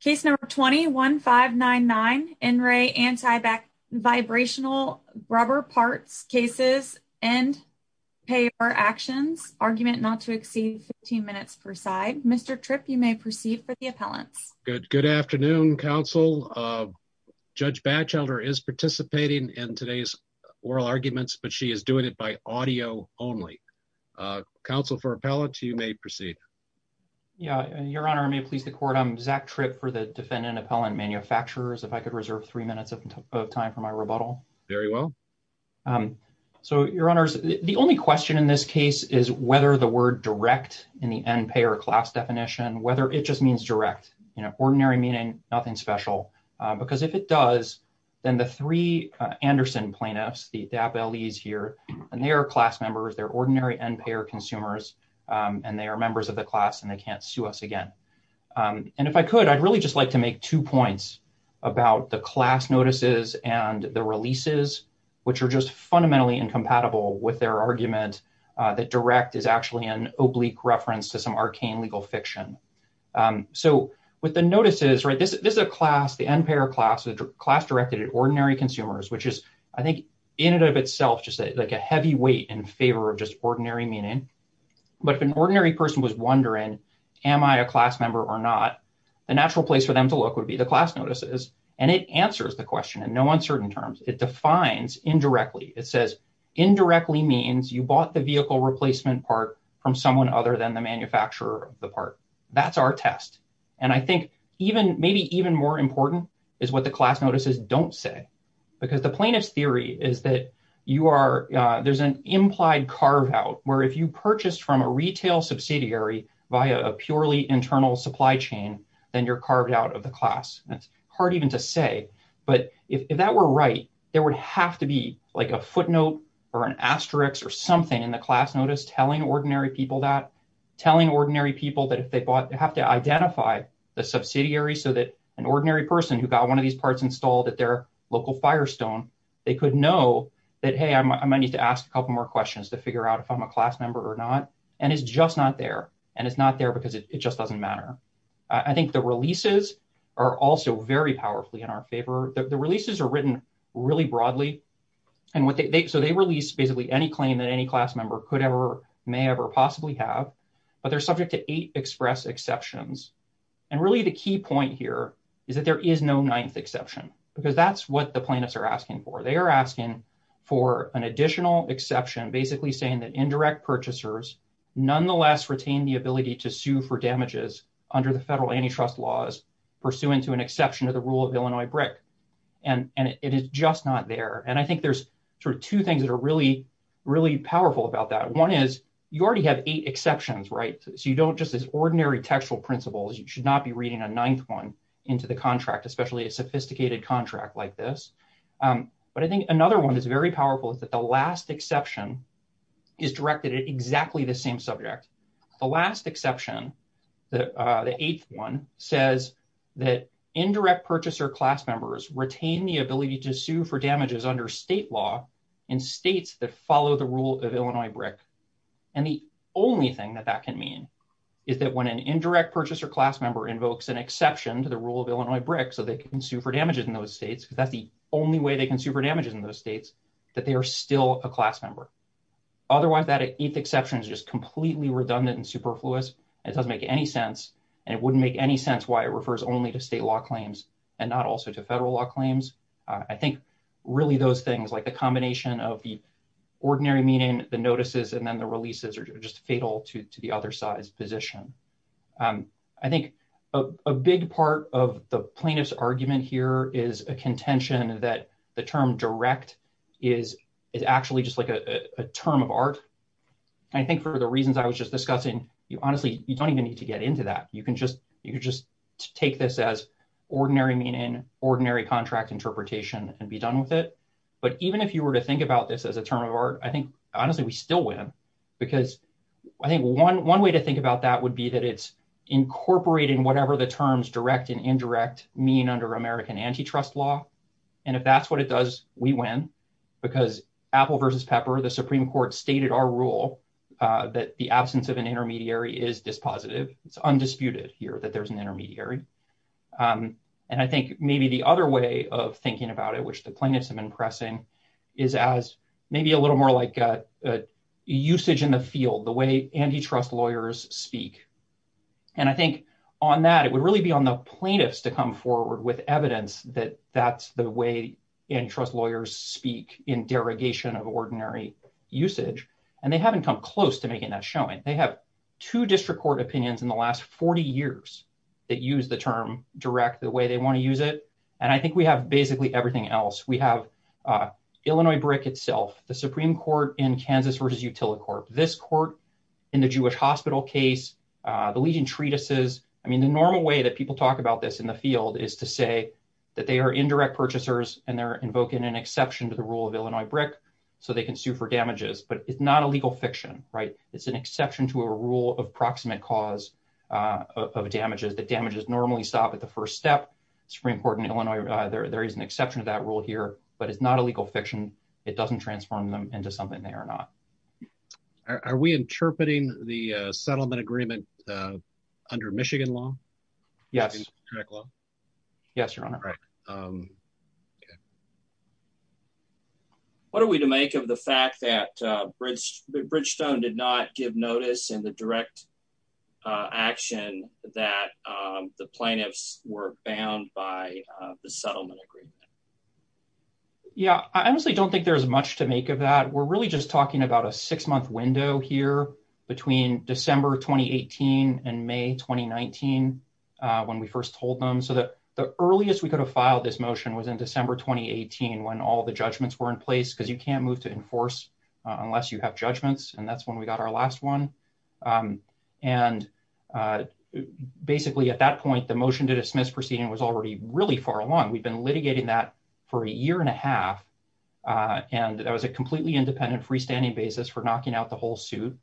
Case No. 20-1599, NRA Anti-Vibrational Rubber Parts Cases-End Payor Actions, argument not to exceed 15 minutes per side. Mr. Tripp, you may proceed for the appellants. Good afternoon, counsel. Judge Batchelder is participating in today's oral arguments, but she is doing it by audio only. Counsel for appellants, you may proceed. Yeah, Your Honor, may it please the court, I'm Zach Tripp for the defendant appellant manufacturers. If I could reserve three minutes of time for my rebuttal. Very well. So, Your Honors, the only question in this case is whether the word direct in the end payer class definition, whether it just means direct, you know, ordinary meaning, nothing special. Because if it does, then the three Anderson plaintiffs, the DAP LEs here, and they are class members, they're ordinary end payer consumers, and they are members of the class and they can't sue us again. And if I could, I'd really just like to make two points about the class notices and the releases, which are just fundamentally incompatible with their argument that direct is actually an oblique reference to some arcane legal fiction. So, with the notices, right, this is a class, the end payer class, the class directed ordinary consumers, which is, I think, in and of itself, just like a heavy weight in favor of just ordinary meaning. But if an ordinary person was wondering, am I a class member or not? The natural place for them to look would be the class notices. And it answers the question in no uncertain terms, it defines indirectly, it says, indirectly means you bought the vehicle replacement part from someone other than the manufacturer of the part. That's our test. And I think even maybe more important is what the class notices don't say, because the plaintiff's theory is that you are, there's an implied carve out where if you purchased from a retail subsidiary via a purely internal supply chain, then you're carved out of the class. That's hard even to say, but if that were right, there would have to be like a footnote or an asterisk or something in the class notice telling ordinary people that, telling ordinary people that if they bought, they have to identify the subsidiary so that an ordinary person who got one of these parts installed at their local Firestone, they could know that, hey, I might need to ask a couple more questions to figure out if I'm a class member or not. And it's just not there. And it's not there because it just doesn't matter. I think the releases are also very powerfully in our favor. The releases are written really broadly. And what they, so they released basically any claim that any class member could may ever possibly have, but they're subject to eight express exceptions. And really the key point here is that there is no ninth exception, because that's what the plaintiffs are asking for. They are asking for an additional exception, basically saying that indirect purchasers nonetheless retain the ability to sue for damages under the federal antitrust laws pursuant to an exception to the rule of Illinois BRIC. And it is just not there. And I think there's sort of two things that are really, really powerful about that. One is you already have eight exceptions, right? So you don't just as ordinary textual principles, you should not be reading a ninth one into the contract, especially a sophisticated contract like this. But I think another one that's very powerful is that the last exception is directed at exactly the same subject. The last exception, the eighth one says that indirect purchaser class members retain the follow the rule of Illinois BRIC. And the only thing that that can mean is that when an indirect purchaser class member invokes an exception to the rule of Illinois BRIC, so they can sue for damages in those states, because that's the only way they can sue for damages in those states, that they are still a class member. Otherwise that eighth exception is just completely redundant and superfluous. It doesn't make any sense. And it wouldn't make any sense why it refers only to state law claims and not also to federal law claims. I think really those things like the ordinary meaning, the notices, and then the releases are just fatal to the other side's position. I think a big part of the plaintiff's argument here is a contention that the term direct is actually just like a term of art. I think for the reasons I was just discussing, honestly, you don't even need to get into that. You can just take this as ordinary meaning, ordinary contract interpretation and be done with it. But even if you were to think about this as a term of art, I think, honestly, we still win. Because I think one way to think about that would be that it's incorporating whatever the terms direct and indirect mean under American antitrust law. And if that's what it does, we win. Because Apple versus Pepper, the Supreme Court stated our rule that the absence of an intermediary is dispositive. It's undisputed here that there's an intermediary. And I think maybe the other way of thinking about it, which the plaintiffs have been pressing, is as maybe a little more like usage in the field, the way antitrust lawyers speak. And I think on that, it would really be on the plaintiffs to come forward with evidence that that's the way antitrust lawyers speak in derogation of ordinary usage. And they haven't come close to making that showing. They have two district court opinions in the last 40 years that use the term direct the way they want to use it. And I think we have basically everything else. We have Illinois BRIC itself, the Supreme Court in Kansas versus Utilicorp, this court in the Jewish Hospital case, the Legion Treatises. I mean, the normal way that people talk about this in the field is to say that they are indirect purchasers and they're invoking an exception to the rule of Illinois BRIC so they can sue for damages. But it's not a legal fiction, right? It's an exception to a rule of proximate cause of damages that damages normally stop at the first step. Supreme Court in Illinois, there is an exception to that rule here, but it's not a legal fiction. It doesn't transform them into something they are not. Are we interpreting the settlement agreement under Michigan law? Yes. Yes, Your Honor. What are we to make of the fact that Bridgestone did not give notice in the direct action that the plaintiffs were bound by the settlement agreement? Yeah, I honestly don't think there's much to make of that. We're really just talking about a six month window here between December 2018 and May 2019 when we first told them. So the earliest we could have filed this motion was in December 2018 when all the judgments were in place because you can't move to enforce unless you have judgments. And that's when we got our last one. And basically at that point, the motion to dismiss proceeding was already really far along. We've been litigating that for a year and a half. And that was a completely independent freestanding basis for knocking out the whole suit.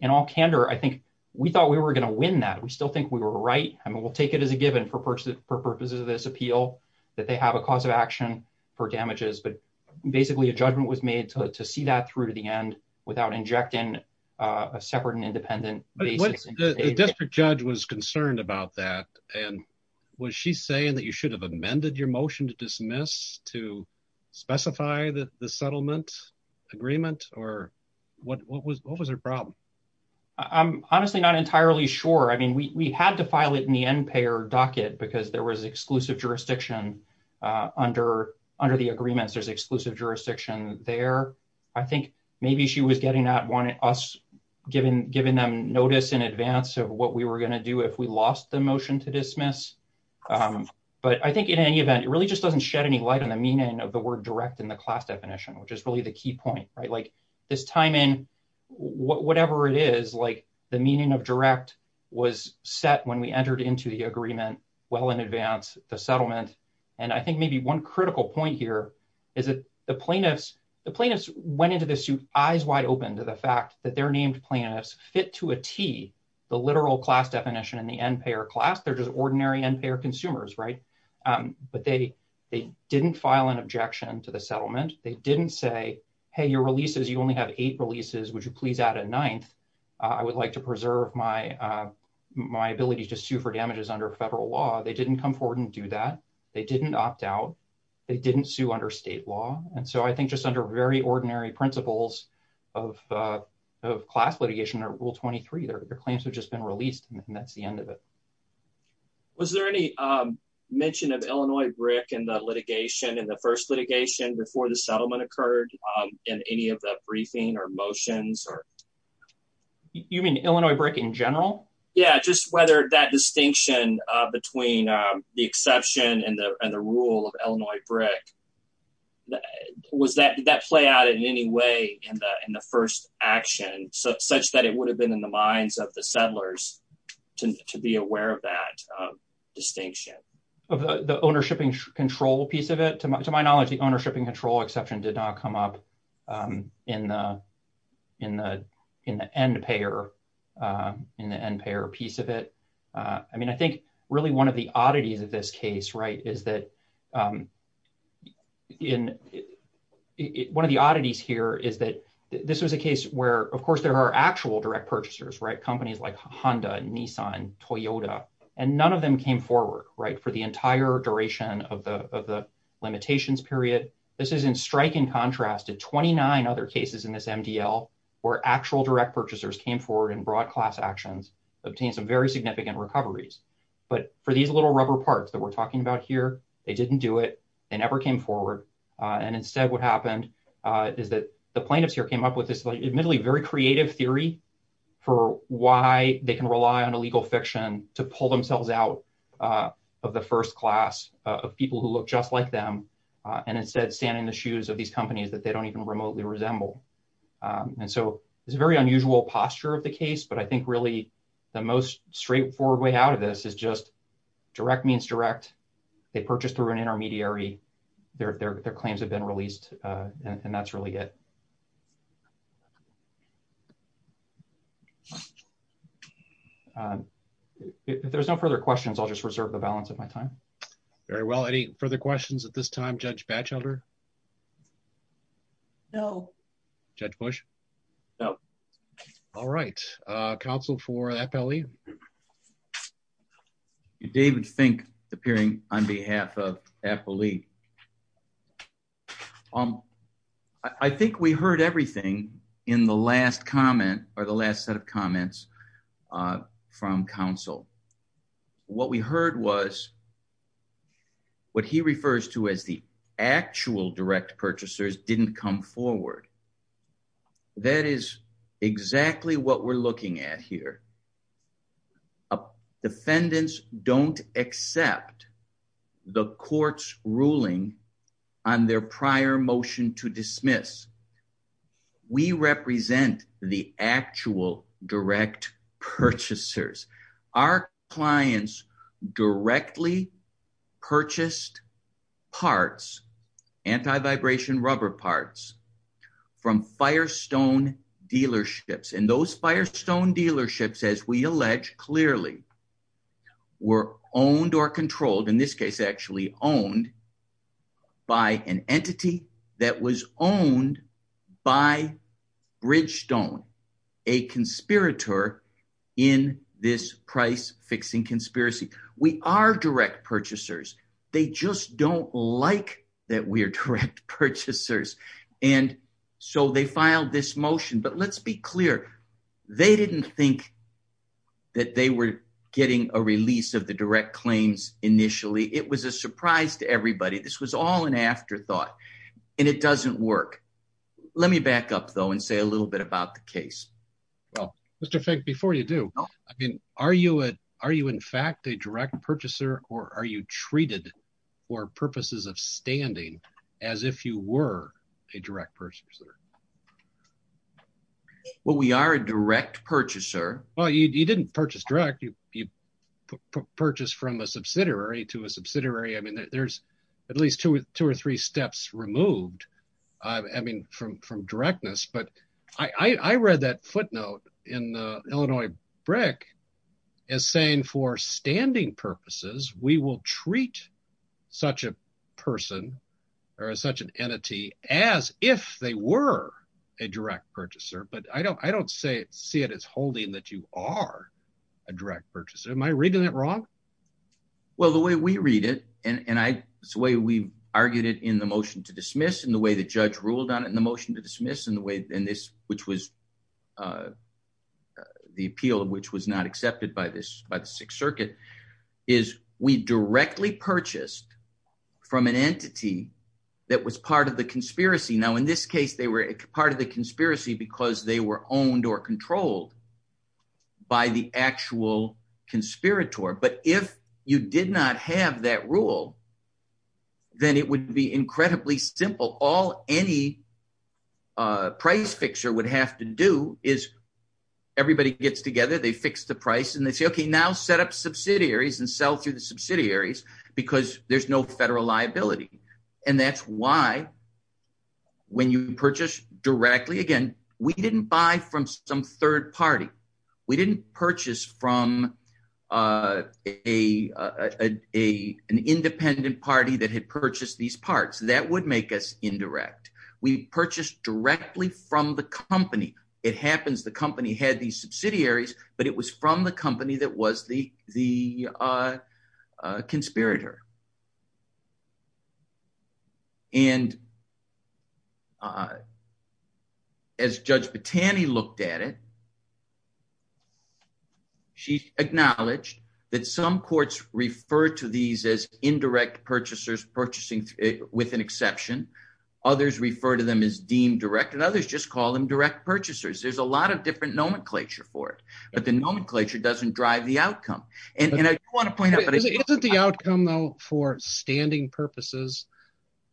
In all candor, I think we thought we were going to win that. We still think we were right. I mean, we'll take it as a given for purposes of this appeal that they have a cause of action for damages. But basically a judgment was made to see that to the end without injecting a separate and independent basis. The district judge was concerned about that. And was she saying that you should have amended your motion to dismiss to specify the settlement agreement? Or what was her problem? I'm honestly not entirely sure. I mean, we had to file it in the end payer docket because there was exclusive jurisdiction under the agreements. There's exclusive jurisdiction there. I think she was getting at us giving them notice in advance of what we were going to do if we lost the motion to dismiss. But I think in any event, it really just doesn't shed any light on the meaning of the word direct in the class definition, which is really the key point. This time in, whatever it is, the meaning of direct was set when we entered into the agreement well in advance the settlement. And I think maybe one critical point here is that the plaintiffs went into the suit eyes wide open to the fact that they're named plaintiffs fit to a T, the literal class definition in the end payer class. They're just ordinary end payer consumers. But they didn't file an objection to the settlement. They didn't say, hey, your releases, you only have eight releases. Would you please add a ninth? I would like to preserve my ability to sue for damages under federal law. They didn't come forward and do that. They didn't opt out. They didn't sue under state law. And so I think just under very ordinary principles of class litigation or rule 23, their claims have just been released. And that's the end of it. Was there any mention of Illinois brick and the litigation and the first litigation before the settlement occurred in any of the briefing or motions or you mean Illinois brick in general? Yeah. Just whether that distinction between the exception and the rule of Illinois brick, was that did that play out in any way in the first action such that it would have been in the minds of the settlers to be aware of that distinction? Of the ownership and control piece of it? To my knowledge, the ownership and control exception did not come up in the end payer piece of it. I mean, I think really one of the oddities of this case is that one of the oddities here is that this was a case where, of course, there are actual direct purchasers, companies like Honda, Nissan, Toyota, and none of them came forward for the entire duration of the limitations period. This is in striking contrast to 29 other cases in this MDL where actual direct purchasers came forward and brought class actions, obtained some very significant recoveries. But for these little rubber parts that we're talking about here, they didn't do it. They never came forward. And instead what happened is that the plaintiffs here came up with this admittedly very creative theory for why they can rely on illegal fiction to pull themselves out of the first class of people who look just like them and instead stand in the shoes of these companies that they don't even remotely resemble. And so it's a very the most straightforward way out of this is just direct means direct. They purchased through an intermediary. Their claims have been released and that's really it. If there's no further questions, I'll just reserve the balance of my time. Very well. Any further questions at this time, Judge Batchelder? No. Judge Bush? No. All right. Counsel for Appali? David Fink appearing on behalf of Appali. I think we heard everything in the last comment or the last set of comments from counsel. What we heard was what he refers to as the actual direct purchasers didn't come forward. That is exactly what we're looking at here. Defendants don't accept the court's ruling on their prior motion to dismiss. We represent the actual direct purchasers. Our clients directly purchased parts, anti-vibration rubber parts, from Firestone dealerships. And those Firestone dealerships, as we allege, clearly were owned or controlled, in this case actually owned, by an entity that was owned by Bridgestone, a conspirator in this price-fixing conspiracy. We are direct purchasers. They just don't like that we're direct purchasers. And so they filed this motion. But let's be clear, they didn't think that they were getting a release of the direct claims initially. It was a surprise to everybody. This was all an afterthought. And it doesn't work. Let me back up, though, and say a little bit about the case. Well, Mr. Fink, before you do, are you in fact a direct purchaser, or are you treated for purposes of standing as if you were a direct purchaser? Well, we are a direct purchaser. Well, you didn't purchase direct. You purchased from a subsidiary to a subsidiary. I mean, there's at least two or three steps removed, I mean, from directness. But I read that footnote in the Illinois Brick as saying, for standing purposes, we will treat such a person or such an entity as if they were a direct purchaser. But I don't see it as holding that you are a direct purchaser. Am I reading that wrong? Well, the way we read it, and it's the way we argued it in the motion to dismiss, and the way the judge ruled on it in the motion to dismiss, and the way in this, which was the appeal of which was not accepted by the Sixth Circuit, is we directly purchased from an entity that was part of the conspiracy. Now, in this case, they were part of the conspiracy because they were owned or controlled by the actual conspirator. But if you did not have that rule, then it would be incredibly simple. All any price fixer would have to do is everybody gets together, they fix the price, and they say, okay, now set up subsidiaries and sell through the subsidiaries because there's no federal liability. And that's why when you purchase directly, again, we didn't buy from some third party. We didn't purchase from an independent party that had purchased these parts. That would make us indirect. We purchased directly from the company. It happens the company had these subsidiaries, but it was from the company that was the conspirator. And as Judge Bottani looked at it, she acknowledged that some courts refer to these as indirect purchasers purchasing with an exception. Others refer to them as deemed direct, and others just call them direct purchasers. There's a lot of different nomenclature for it, but the nomenclature doesn't drive the outcome. And I want to point out- Isn't the outcome though for standing purposes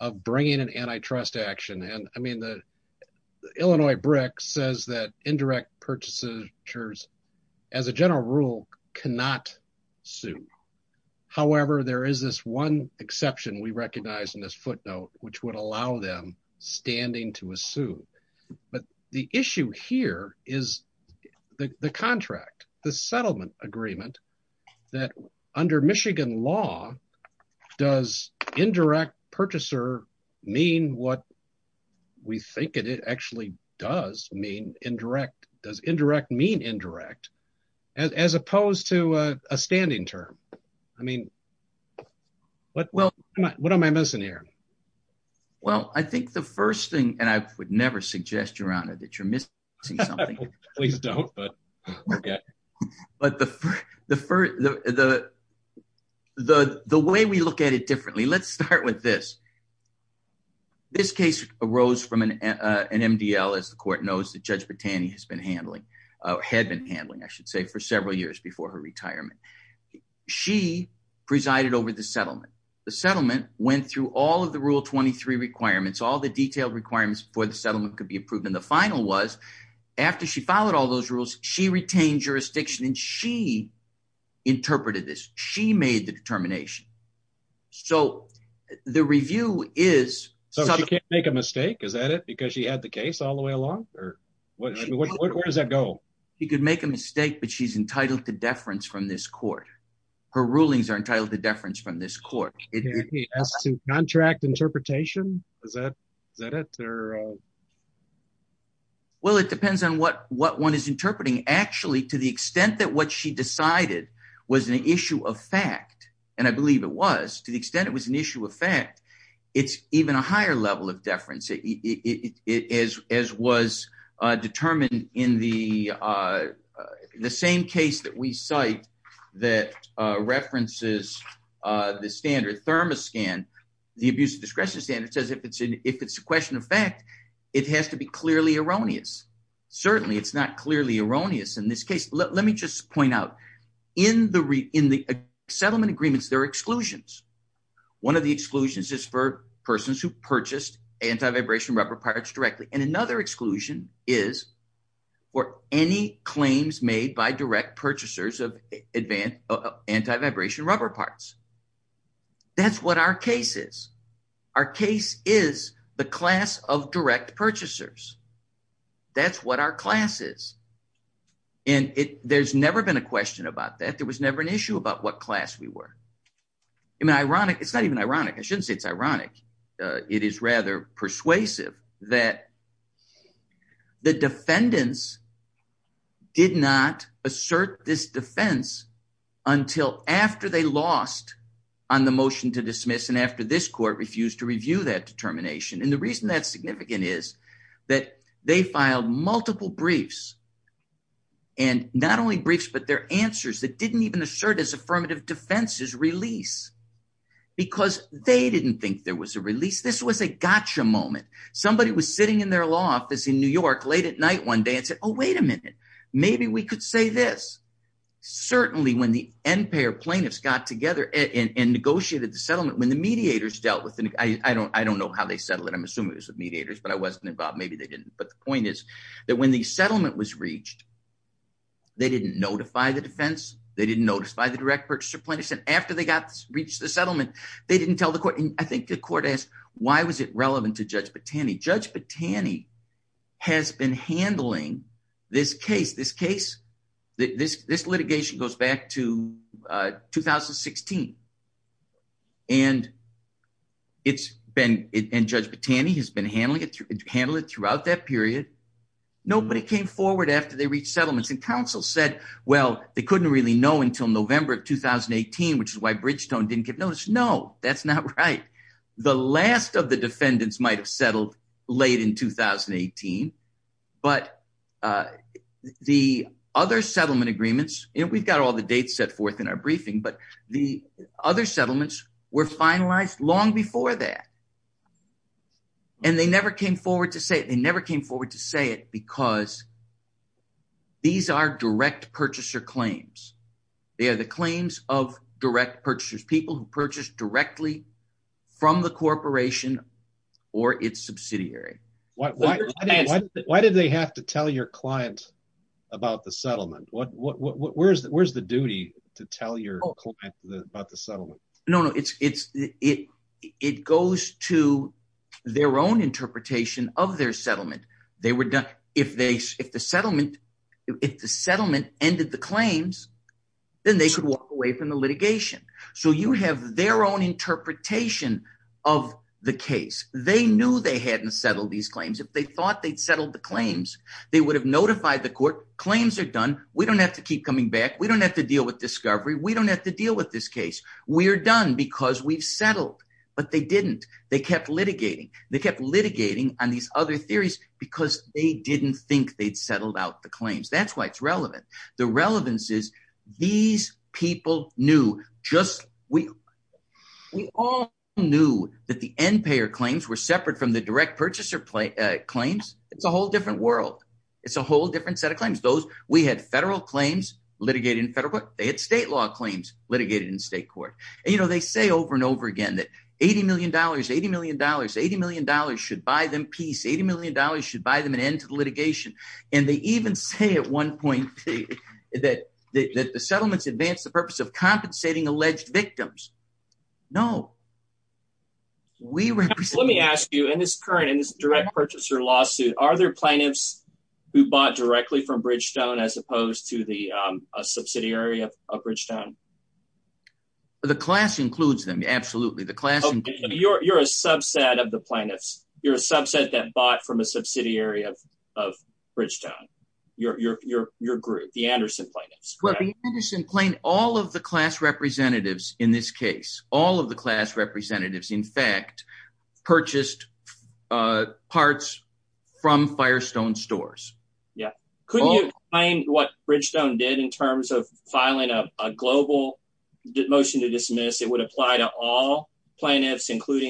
of bringing an antitrust action? And I mean, the Illinois BRIC says that indirect purchasers as a general rule cannot sue. However, there is this one exception we recognize in this footnote, which would allow them standing to assume. But the issue here is the contract, the settlement agreement that under Michigan law, does indirect purchaser mean what we think it actually does mean indirect? Does indirect mean indirect as opposed to a standing term? I mean, what am I missing here? Well, I think the first thing, and I would never suggest, Your Honor, that you're missing something. Please don't, but okay. But the way we look at it differently, let's start with this. This case arose from an MDL, as the court knows, that Judge Bottani has been handling, or had been handling, I should say, for several years before her retirement. She presided over the settlement. The settlement went through all of the Rule 23 requirements, all the detailed requirements for the settlement could be approved. And the final was, after she followed all those rules, she retained jurisdiction and she interpreted this. She made the determination. So the review is- So she can't make a mistake? Is that it? Because she had the case all the way along? Where does that go? She could make a mistake, but she's entitled to deference from this court. Her rulings are entitled to deference from this court. She has to contract interpretation? Is that it? Well, it depends on what one is interpreting. Actually, to the extent that what she decided was an issue of fact, and I believe it was, to the extent it was an issue of fact, it's even a higher level of deference, as was determined in the same case that we cite that references the standard thermoscan, the abuse of discretion standard, says if it's a question of fact, it has to be clearly erroneous. Certainly, it's not clearly erroneous in this case. Let me just point out, in the settlement agreements, there are exclusions. One of the exclusions is for persons who purchased anti-vibration rubber parts directly. And another exclusion is for any claims made by direct purchasers of anti-vibration rubber parts. That's what our case is. Our case is the class of direct purchasers. That's what our class is. And there's never been a question about that. There was never an issue about what class we were. I mean, it's not even ironic. I shouldn't say it's ironic. It is rather persuasive that the defendants did not assert this defense until after they lost on the motion to dismiss and after this court refused to review that determination. And the reason that's significant is that they filed multiple briefs, and not only briefs, but their answers that release because they didn't think there was a release. This was a gotcha moment. Somebody was sitting in their law office in New York late at night one day and said, oh, wait a minute. Maybe we could say this. Certainly, when the end payer plaintiffs got together and negotiated the settlement, when the mediators dealt with it, I don't know how they settled it. I'm assuming it was with mediators, but I wasn't involved. Maybe they didn't. But the point is that when the settlement was reached, they didn't notify the defense. They didn't notify the direct purchaser plaintiffs. And after they reached the settlement, they didn't tell the court. And I think the court asked, why was it relevant to Judge Batani? Judge Batani has been handling this case. This litigation goes back to 2016. And Judge Batani has been handling it throughout that period. Nobody came forward after they know until November of 2018, which is why Bridgetone didn't give notice. No, that's not right. The last of the defendants might have settled late in 2018. But the other settlement agreements, we've got all the dates set forth in our briefing, but the other settlements were finalized long before that. And they never came forward to say it. They never came forward to say because these are direct purchaser claims. They are the claims of direct purchasers, people who purchased directly from the corporation or its subsidiary. Why did they have to tell your client about the settlement? Where's the duty to tell your client about the settlement? No, it goes to their own interpretation of their settlement. If the settlement ended the claims, then they could walk away from the litigation. So you have their own interpretation of the case. They knew they hadn't settled these claims. If they thought they'd settled the claims, they would have notified the court claims are done. We don't have to keep coming back. We don't have to deal with discovery. We don't have to deal with this case. We're done because we've settled. But they didn't. They kept litigating. They kept litigating on these other theories because they didn't think they'd settled out the claims. That's why it's relevant. The relevance is these people knew. We all knew that the end payer claims were separate from the direct purchaser claims. It's a whole different world. It's a whole different set of claims. We had federal claims litigated in federal court. They had state law claims litigated in state court. And they say over and over again that $80 million, $80 million, $80 million should buy them peace. $80 million should buy them an end to the litigation. And they even say at one point that the settlements advance the purpose of compensating alleged victims. No. Let me ask you, in this current, in this direct purchaser lawsuit, are there plaintiffs who bought directly from Bridgestone as opposed to the subsidiary of Bridgestone? The class includes them. Absolutely. The class includes them. You're a subset of the plaintiffs. You're a subset that bought from a subsidiary of Bridgestone, your group, the Anderson plaintiffs. Well, the Anderson plaintiffs, all of the class representatives in this case, all of the class representatives, in fact, purchased parts from Firestone stores. Yeah. Couldn't you claim what Bridgestone did in terms of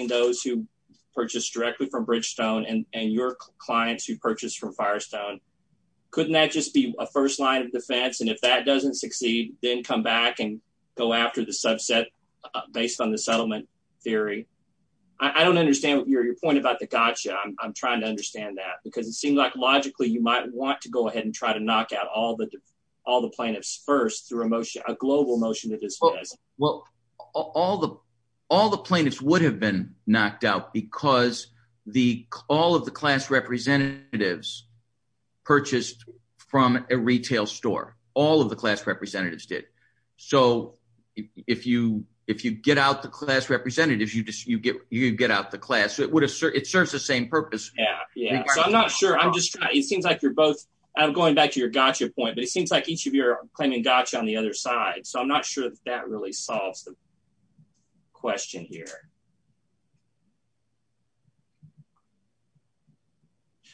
those who purchased directly from Bridgestone and your clients who purchased from Firestone? Couldn't that just be a first line of defense? And if that doesn't succeed, then come back and go after the subset based on the settlement theory. I don't understand your point about the gotcha. I'm trying to understand that because it seems like logically you might want to go ahead and try to knock out all the plaintiffs first through a motion, a global motion. Well, all the plaintiffs would have been knocked out because all of the class representatives purchased from a retail store. All of the class representatives did. So if you get out the class representatives, you get out the class. It serves the same purpose. Yeah. Yeah. So I'm not sure. It seems like you're both going back to your gotcha point, but it seems like each of you are claiming gotcha on the other side. So I'm not sure that that really solves the question here.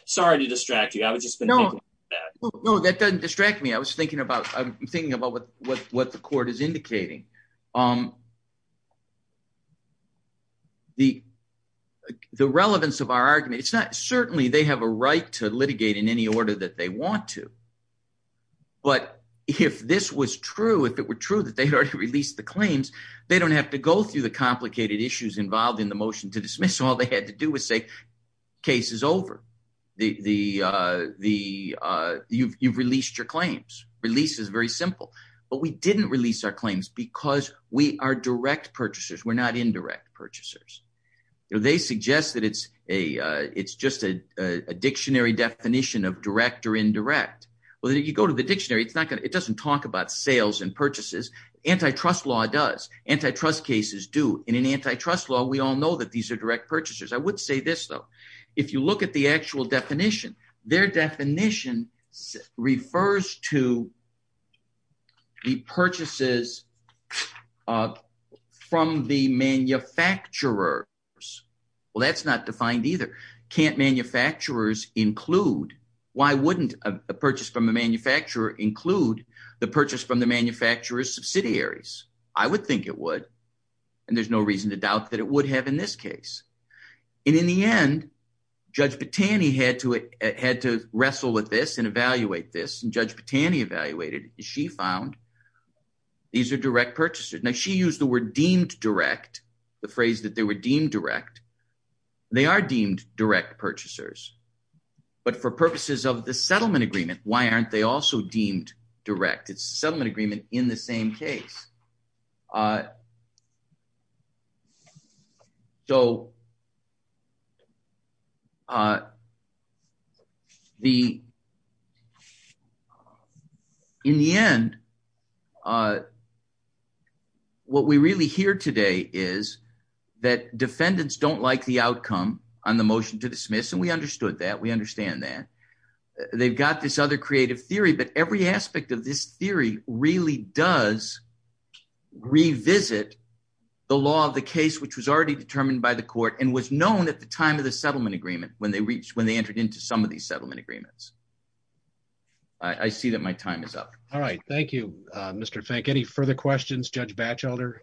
Sorry to distract you. I was just thinking about that. No, that doesn't distract me. I was thinking about, I'm thinking about what the court is indicating. The relevance of our argument, it's not certainly they have a right to litigate in any order that they want to. But if this was true, if it were true that they had already released the claims, they don't have to go through the complicated issues involved in the motion to dismiss. All they had to do was say case is over. You've released your claims. Release is very simple. But we didn't release our claims because we are direct purchasers. We're not indirect purchasers. They suggest that it's a it's just a dictionary definition of direct or indirect. Well, you go to the dictionary. It's not going to it doesn't talk about sales and purchases. Antitrust law does antitrust cases do in an antitrust law. We all know that these are direct purchasers. I would say this, though, if you look at the actual definition, their definition refers to the purchases from the manufacturers. Well, that's not defined either. Can't manufacturers include? Why wouldn't a purchase from a manufacturer include the purchase from the manufacturer's subsidiaries? I would think it would. And there's no reason to doubt that it would have in this case. And in the end, Judge Botani had to had to wrestle with this and evaluate this. And Judge Botani evaluated. She found these are direct purchasers. Now, she used the word deemed direct the phrase that they were deemed direct. They are deemed direct purchasers. But for purposes of the settlement agreement, why aren't they also deemed direct? It's settlement agreement in the same case. So. The. In the end. What we really hear today is that defendants don't like the outcome on the motion to dismiss, and we understood that we understand that they've got this other creative theory, but every aspect of this theory really does revisit the law of the case, which was already determined by the court and was known at the time of the settlement agreement when they reached when they entered into some of these settlement agreements. I see that my time is up. All right. Thank you, Mr. Fink. Any further questions? Judge Batchelder?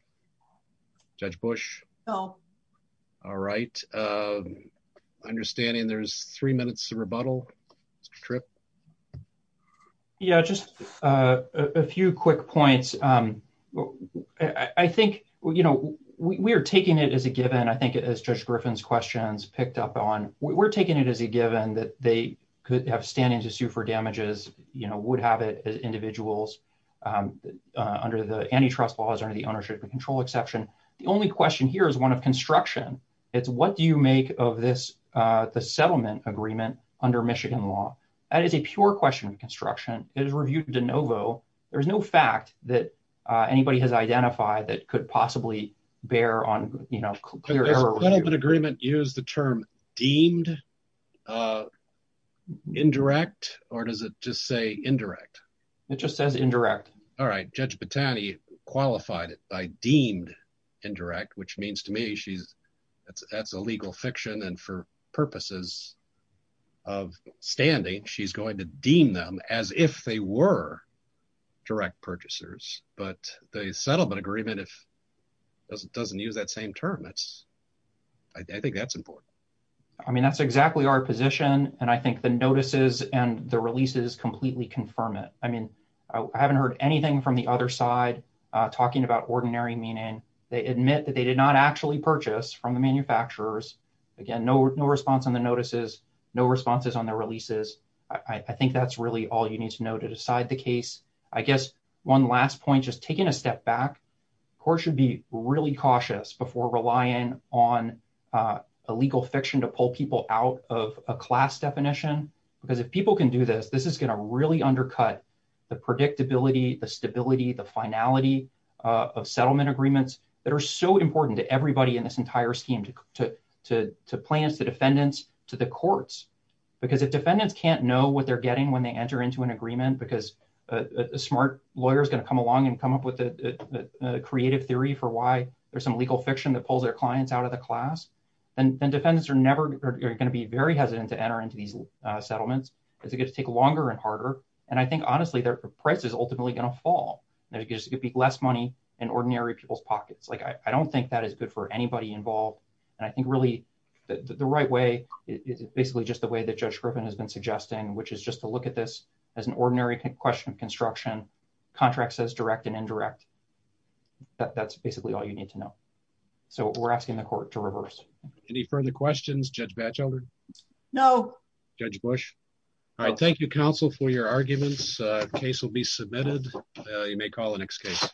Judge Bush? No. All right. Understanding there's three minutes of rebuttal trip. Yeah, just a few quick points. I think, you know, we are taking it as a given. I think, as Judge Griffin's questions picked up on, we're taking it as a given that they could have standing to sue for damages, you know, would have it as individuals under the antitrust laws under the ownership and control exception. The only question here is one of construction. It's what do you make of this, the settlement agreement under Michigan law? That is a pure question of construction. It is reviewed de novo. There is no fact that anybody has identified that could possibly bear on, you know, clear error. Does the settlement agreement use the term deemed indirect, or does it just say indirect? It just says indirect. All right. Judge Batani qualified it by deemed indirect, which means to me that's a legal fiction, and for purposes of standing, she's going to deem them as if they were direct purchasers. But the settlement agreement, if it doesn't use that same term, I think that's important. I mean, that's exactly our position, and I think the notices and the releases completely confirm it. I mean, I haven't heard anything from the other side talking about ordinary meaning. They admit that they did not actually purchase from the manufacturers. Again, no response on the notices, no responses on the releases. I think that's really all you need to know to decide the case. I guess one last point, just taking a step back, courts should be really cautious before relying on a legal fiction to pull people out of a class definition, because if people can do this, this is going to really undercut the predictability, the stability, the finality of settlement agreements that are so important to everybody in this entire scheme, to plaintiffs, to defendants, to the courts. Because if defendants can't know what they're getting when they enter into an agreement, because a smart lawyer is going to come along and come up with a creative theory for why there's some legal fiction that pulls their clients out of the class, then defendants are never going to be very hesitant to enter into these settlements. It's going to take longer and harder. And I think, honestly, their price is ultimately going to fall. There's going to be less money in ordinary people's pockets. I don't think that is good for anybody involved. And I think really the right way is basically just the way that Judge Griffin has been suggesting, which is just to look at this as an ordinary question of construction, contract says direct and indirect. That's basically all you need to know. So we're asking the court to reverse. Any further questions, Judge Batchelder? No. Judge Bush. All right. Thank you, counsel, for your arguments. Case will be submitted. You may call the next case.